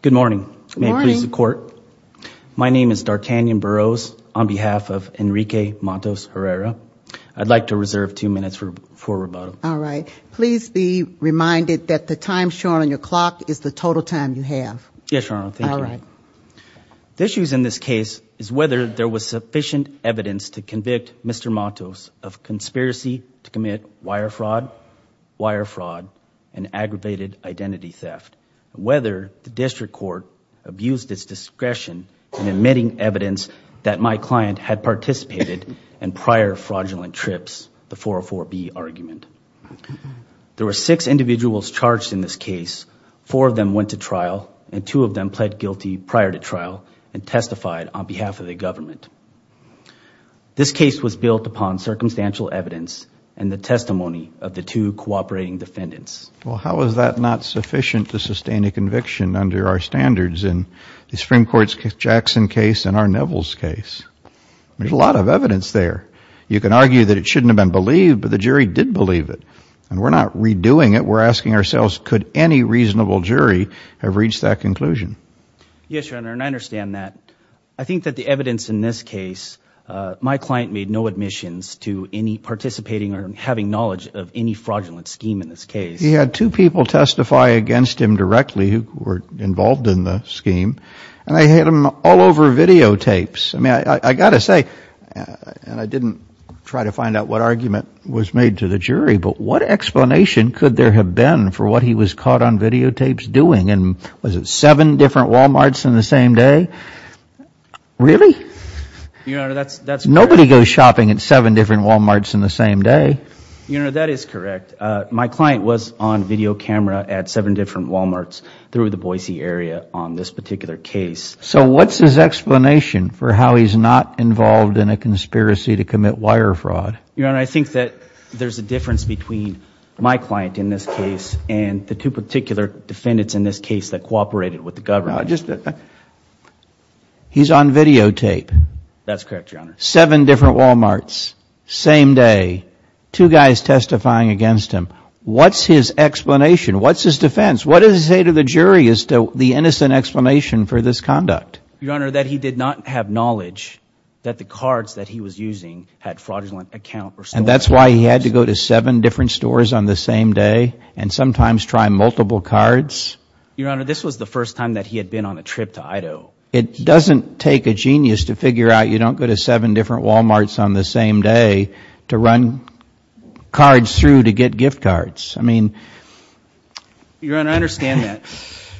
Good morning. May it please the court. My name is D'Arkanian Burroughs on behalf of Enrique Matos-Herrera. I'd like to reserve two minutes for rebuttal. Alright. Please be reminded that the time shown on your clock is the total time you have. Yes, Your Honor. Thank you. The issues in this case is whether there was sufficient evidence to convict Mr. Matos of conspiracy to commit wire fraud, wire fraud, whether the district court abused its discretion in admitting evidence that my client had participated in prior fraudulent trips, the 404B argument. There were six individuals charged in this case. Four of them went to trial and two of them pled guilty prior to trial and testified on behalf of the government. This case was built upon circumstantial evidence and the testimony of the two cooperating defendants. Well, how is that not sufficient to sustain a conviction under our standards in the Supreme Court's Jackson case and our Neville's case? There's a lot of evidence there. You can argue that it shouldn't have been believed, but the jury did believe it. And we're not redoing it. We're asking ourselves, could any reasonable jury have reached that conclusion? Yes, Your Honor, and I understand that. I think that the evidence in this case, my client made no admissions to any participating or having knowledge of any fraudulent scheme in this case. He had two people testify against him directly who were involved in the scheme and they hit him all over videotapes. I mean, I got to say, and I didn't try to find out what argument was made to the jury, but what explanation could there have been for what he was caught on videotapes doing? And was it seven different Walmarts in the same day? Really? Your Honor, that's correct. Nobody goes shopping at seven different Walmarts in the same day. Your Honor, that is correct. My client was on video camera at seven different Walmarts through the Boise area on this particular case. So what's his explanation for how he's not involved in a conspiracy to commit wire fraud? Your Honor, I think that there's a difference between my client in this case and the two particular defendants in this case that cooperated with the government. He's on videotape. That's correct, Your Honor. Seven different Walmarts, same day, two guys testifying against him. What's his explanation? What's his defense? What does he say to the jury as to the innocent explanation for this conduct? Your Honor, that he did not have knowledge that the cards that he was using had fraudulent accounts or stolen items. And that's why he had to go to seven different stores on the same day and sometimes try multiple cards? It doesn't take a genius to figure out you don't go to seven different Walmarts on the same day to run cards through to get gift cards. I mean, Your Honor, I understand that.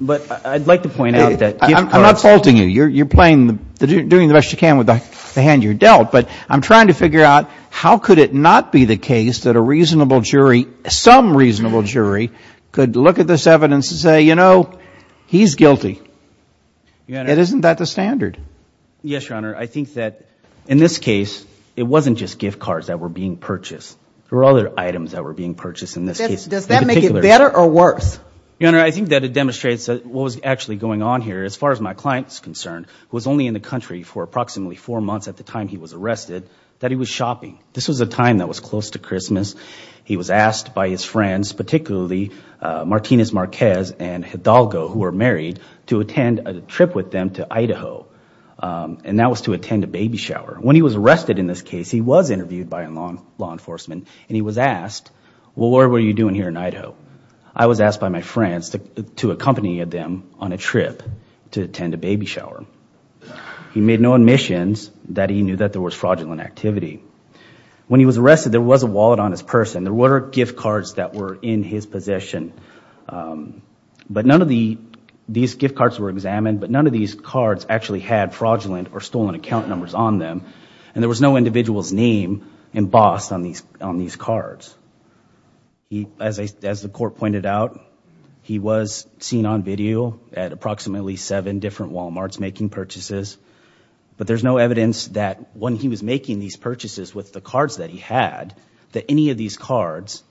But I'd like to point out that gift cards... I'm not faulting you. You're playing, doing the best you can with the hand you're dealt. But I'm trying to figure out how could it not be the case that a reasonable jury, some reasonable jury, could look at this evidence and say, you know, he's guilty. Isn't that the standard? Yes, Your Honor. I think that in this case, it wasn't just gift cards that were being purchased. There were other items that were being purchased in this case. Does that make it better or worse? Your Honor, I think that it demonstrates that what was actually going on here, as far as my client's concerned, who was only in the country for approximately four months at the time he was arrested, that he was shopping. This was a time that was close to Christmas. He was asked by his friends, particularly Martinez Marquez and Hidalgo, who were married to attend a trip with them to Idaho. And that was to attend a baby shower. When he was arrested in this case, he was interviewed by law enforcement, and he was asked, well, what were you doing here in Idaho? I was asked by my friends to accompany them on a trip to attend a baby shower. He made no admissions that he knew that there was fraudulent activity. When he was arrested, there was a wallet on his person. There were gift cards that were in his possession. But none of these gift cards were examined, but none of these cards actually had fraudulent or stolen account numbers on them. And there was no individual's name embossed on these cards. As the court pointed out, he was seen on video at approximately seven different Walmarts making purchases, but there's no evidence that when he was making these purchases with the cards that he had, that any of these cards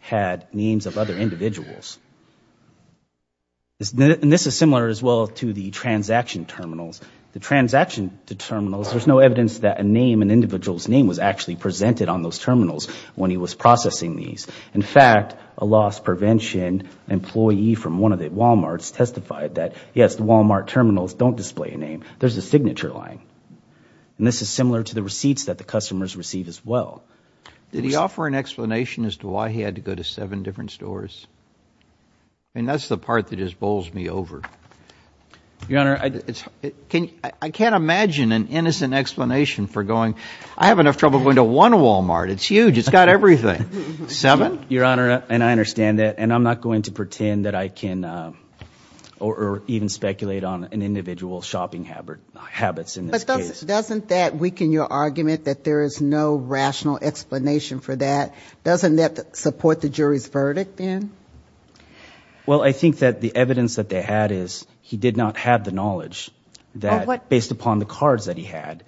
had names of other individuals. And this is similar as well to the transaction terminals. The transaction terminals, there's no evidence that a name, an individual's name, was actually presented on those terminals when he was processing these. In fact, a loss prevention employee from one of the Walmarts testified that, yes, the Walmart terminals don't display a name. There's a signature line. And this is similar to the receipts that the customers receive as well. Did he offer an explanation as to why he had to go to seven different stores? I mean, that's the part that just bowls me over. Your Honor, I can't imagine an innocent explanation for going, I have enough trouble going to one Walmart. It's huge. It's got everything. Seven? Your Honor, and I understand that, and I'm not going to pretend that I can or even speculate on an individual's shopping habits in this case. But doesn't that weaken your argument that there is no rational explanation for that? Doesn't that support the jury's verdict then? Well, I think that the evidence that they had is he did not have the knowledge that, based upon the cards that he had,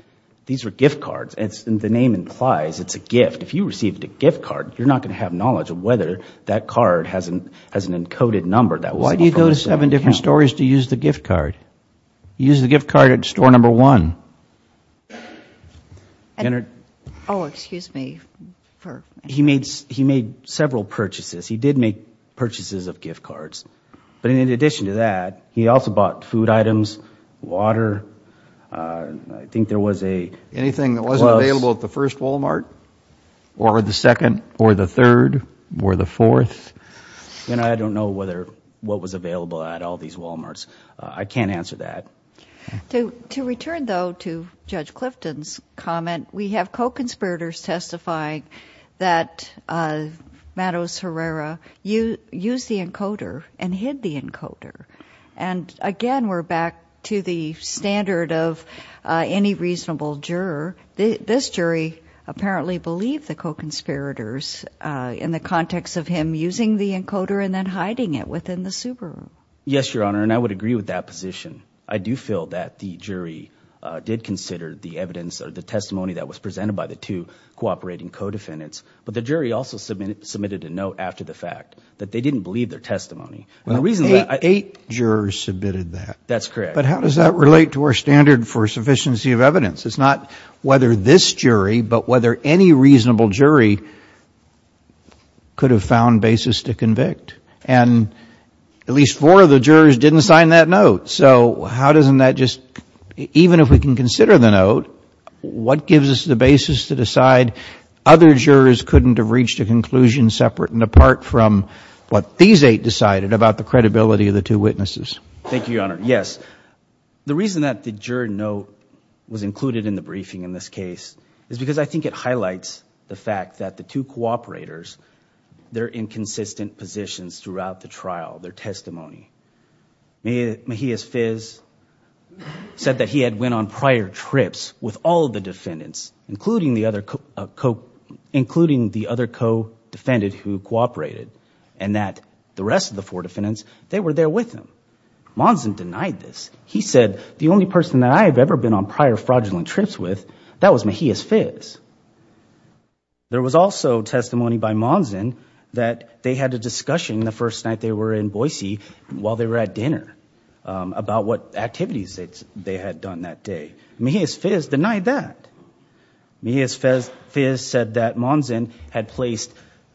these were gift cards. And the name implies it's a gift. If you received a gift card, you're not going to have knowledge of whether that card has an encoded number that was in the phone account. He went to seven different stores to use the gift card. He used the gift card at store number one. Oh, excuse me. He made several purchases. He did make purchases of gift cards. But in addition to that, he also bought food items, water, I think there was a... Anything that wasn't available at the first Walmart? Or the second? Or the third? Or the fourth? I don't know what was available at all these Walmarts. I can't answer that. To return, though, to Judge Clifton's comment, we have co-conspirators testifying that Matos Herrera used the encoder and hid the encoder. And, again, we're back to the standard of any reasonable juror. This jury apparently believed the co-conspirators in the context of him using the encoder and then hiding it within the Subaru. Yes, Your Honor, and I would agree with that position. I do feel that the jury did consider the evidence or the testimony that was presented by the two cooperating co-defendants. But the jury also submitted a note after the fact that they didn't believe their testimony. Eight jurors submitted that. That's correct. But how does that relate to our standard for sufficiency of evidence? It's not whether this jury, but whether any reasonable jury could have found basis to convict. And at least four of the jurors didn't sign that note. So how doesn't that just, even if we can consider the note, what gives us the basis to decide other jurors couldn't have reached a conclusion separate and apart from what these eight decided about the credibility of the two witnesses? Thank you, Your Honor. Yes. The reason that the juror note was included in the briefing in this case is because I think it highlights the fact that the two cooperators, their inconsistent positions throughout the trial, their testimony. Mejia's fizz said that he had went on prior trips with all the defendants, including the other co-defendant who cooperated, and that the rest of the four defendants, they were there with him. Monson denied this. He said, the only person that I have ever been on prior fraudulent trips with, that was Mejia's fizz. There was also testimony by Monson that they had a discussion the first night they were in Boise while they were at dinner about what activities they had done that day. Mejia's fizz denied that. Mejia's fizz said that Monson had placed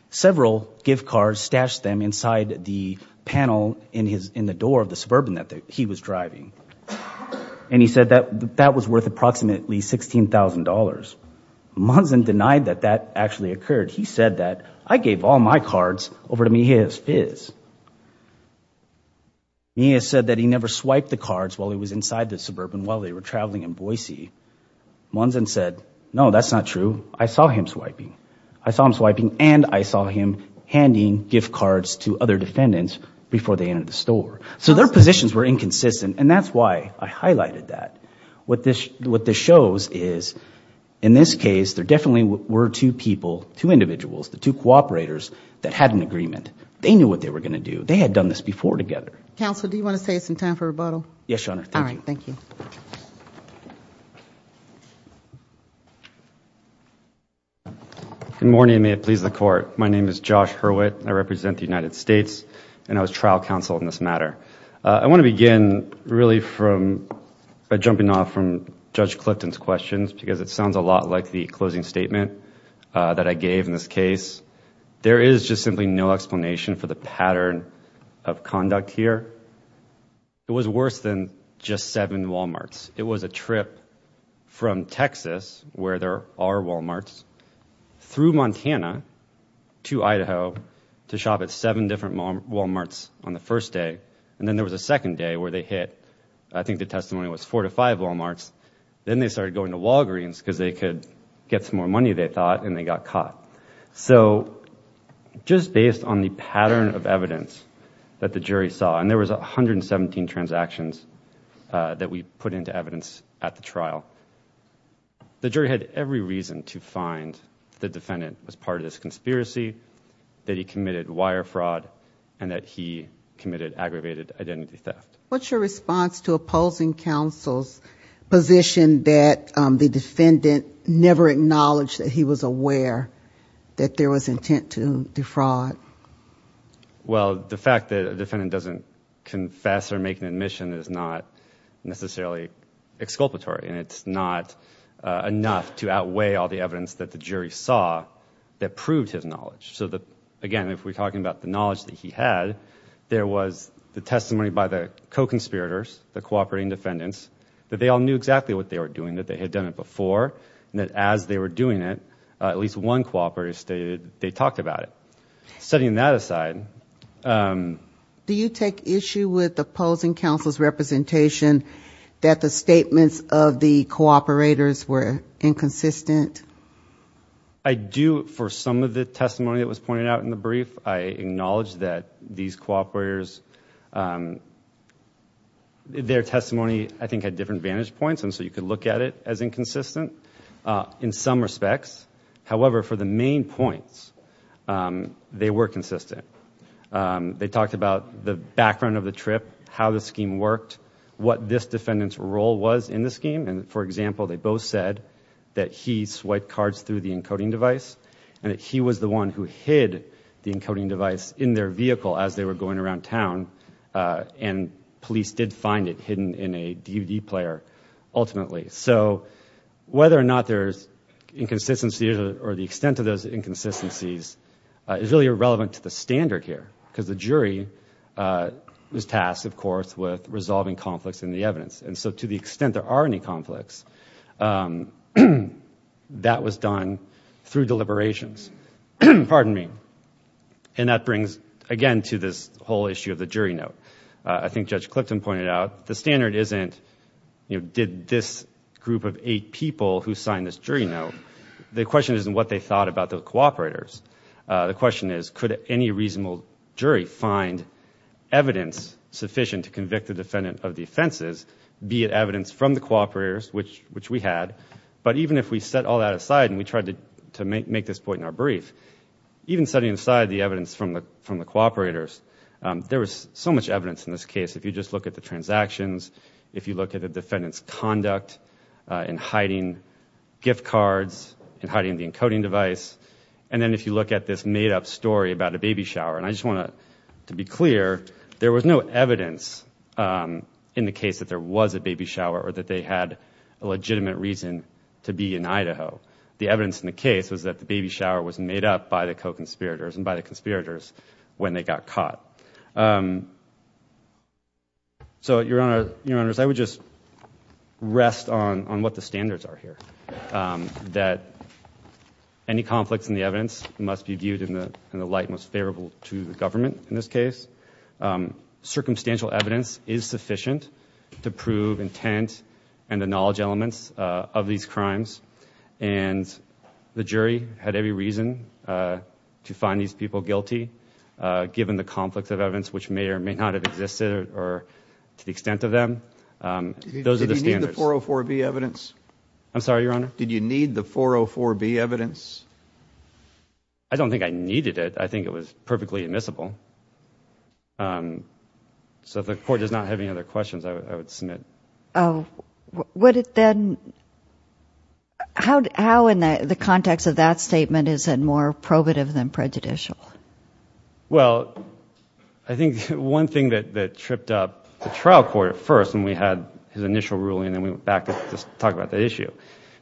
several gift cards, stashed them inside the panel in the door of the Suburban that he was driving, and he said that that was worth approximately $16,000. Monson denied that that actually occurred. He said that, I gave all my cards over to Mejia's fizz. Mejia said that he never swiped the cards while he was inside the Suburban while they were traveling in Boise. Monson said, no, that's not true. I saw him swiping. I saw him swiping, and I saw him handing gift cards to other defendants before they entered the store. So their positions were inconsistent, and that's why I highlighted that. What this shows is, in this case, there definitely were two people, two individuals, the two cooperators that had an agreement. They knew what they were going to do. They had done this before together. Counsel, do you want to say it's in time for rebuttal? Yes, Your Honor. All right, thank you. Good morning, and may it please the Court. My name is Josh Hurwitt. I represent the United States, and I was trial counsel in this matter. I want to begin, really, by jumping off from Judge Clifton's questions, because it sounds a lot like the closing statement that I gave in this case. There is just simply no explanation for the pattern of conduct here. It was worse than just seven Walmarts. It was a trip from Texas, where there are Walmarts, through Montana to Idaho to shop at seven different Walmarts on the first day, and then there was a second day where they hit, I think the testimony was four to five Walmarts. Then they started going to Walgreens because they could get some more money, they thought, and they got caught. So just based on the pattern of evidence that the jury saw, and there was 117 transactions that we put into evidence at the trial, the jury had every reason to find the defendant was part of this conspiracy, that he committed wire fraud, and that he committed aggravated identity theft. What's your response to opposing counsel's position that the defendant never acknowledged that he was aware that there was intent to defraud? Well, the fact that a defendant doesn't confess or make an admission is not necessarily exculpatory, and it's not enough to outweigh all the evidence that the jury saw that proved his knowledge. So again, if we're talking about the knowledge that he had, there was the testimony by the co-conspirators, the cooperating defendants, that they all knew exactly what they were doing, that they had done it before, and that as they were doing it, at least one cooperator stated they talked about it. Setting that aside. Do you take issue with opposing counsel's representation that the statements of the cooperators were inconsistent? I do for some of the testimony that was pointed out in the brief. I acknowledge that these cooperators, their testimony, I think, had different vantage points, and so you could look at it as inconsistent in some respects. However, for the main points, they were consistent. They talked about the background of the trip, how the scheme worked, what this defendant's role was in the scheme, and, for example, they both said that he swiped cards through the encoding device and that he was the one who hid the encoding device in their vehicle as they were going around town, and police did find it hidden in a DVD player, ultimately. So whether or not there's inconsistencies or the extent of those inconsistencies is really irrelevant to the standard here, because the jury was tasked, of course, with resolving conflicts in the evidence, and so to the extent there are any conflicts, that was done through deliberations. Pardon me. And that brings, again, to this whole issue of the jury note. I think Judge Clifton pointed out the standard isn't, you know, did this group of eight people who signed this jury note? The question isn't what they thought about the cooperators. The question is could any reasonable jury find evidence sufficient to convict the defendant of the offenses, be it evidence from the cooperators, which we had, but even if we set all that aside and we tried to make this point in our brief, even setting aside the evidence from the cooperators, there was so much evidence in this case. If you just look at the transactions, if you look at the defendant's conduct in hiding gift cards, in hiding the encoding device, and then if you look at this made-up story about a baby shower, and I just want to be clear, there was no evidence in the case that there was a baby shower or that they had a legitimate reason to be in Idaho. The evidence in the case was that the baby shower was made up by the co-conspirators and by the conspirators when they got caught. So, Your Honors, I would just rest on what the standards are here, that any conflicts in the evidence must be viewed in the light most favorable to the government in this case. Circumstantial evidence is sufficient to prove intent and the knowledge elements of these crimes, and the jury had every reason to find these people guilty, given the conflicts of evidence which may or may not have existed or to the extent of them. Those are the standards. Did you need the 404B evidence? I'm sorry, Your Honor? Did you need the 404B evidence? I don't think I needed it. I think it was perfectly admissible. So if the Court does not have any other questions, I would submit. Would it then, how in the context of that statement is it more probative than prejudicial? Well, I think one thing that tripped up the trial court at first when we had his initial ruling and then we went back to talk about the issue,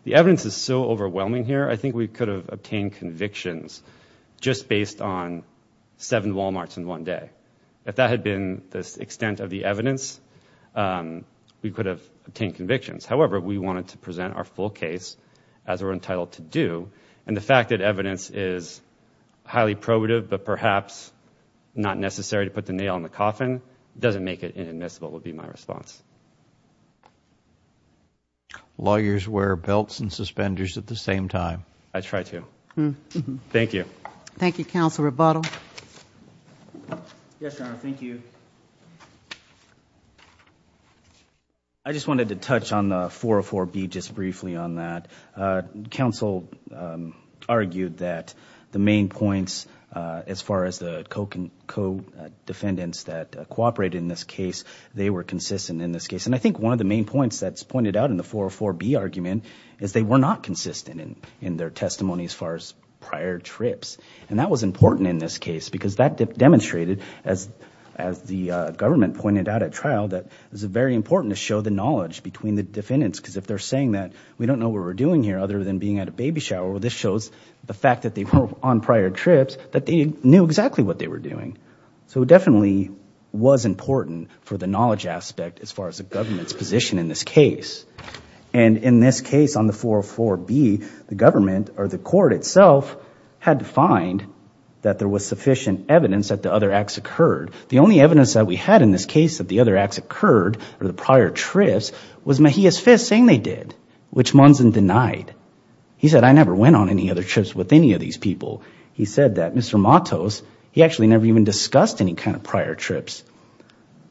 the evidence is so overwhelming here. I think we could have obtained convictions just based on seven Walmarts in one day. If that had been the extent of the evidence, we could have obtained convictions. However, we wanted to present our full case as we're entitled to do, and the fact that evidence is highly probative but perhaps not necessary to put the nail in the coffin doesn't make it inadmissible would be my response. Lawyers wear belts and suspenders at the same time. I try to. Thank you. Thank you, Counsel Rebuttal. Yes, Your Honor, thank you. I just wanted to touch on the 404B just briefly on that. Counsel argued that the main points as far as the co-defendants that cooperated in this case, they were consistent in this case, and I think one of the main points that's pointed out in the 404B argument is they were not consistent in their testimony as far as prior trips, and that was important in this case because that demonstrated, as the government pointed out at trial, that it was very important to show the knowledge between the defendants because if they're saying that we don't know what we're doing here other than being at a baby shower, this shows the fact that they were on prior trips that they knew exactly what they were doing. So it definitely was important for the knowledge aspect as far as the government's position in this case, and in this case on the 404B, the government or the court itself had to find that there was sufficient evidence that the other acts occurred. The only evidence that we had in this case that the other acts occurred or the prior trips was Mejia's fist saying they did, which Monson denied. He said, I never went on any other trips with any of these people. He said that Mr. Matos, he actually never even discussed any kind of prior trips.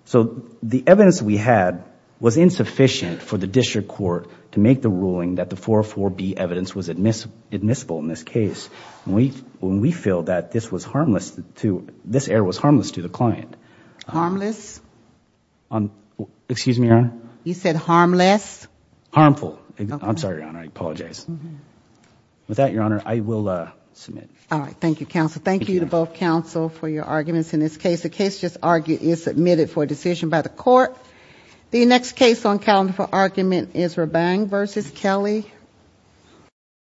So the evidence we had was insufficient for the district court to make the ruling that the 404B evidence was admissible in this case, and we feel that this error was harmless to the client. Harmless? Excuse me, Your Honor? You said harmless? Harmful. I'm sorry, Your Honor. I apologize. With that, Your Honor, I will submit. All right. Thank you, counsel. Thank you to both counsel for your arguments in this case. The case is submitted for decision by the court. The next case on calendar for argument is Rabang v. Kelly.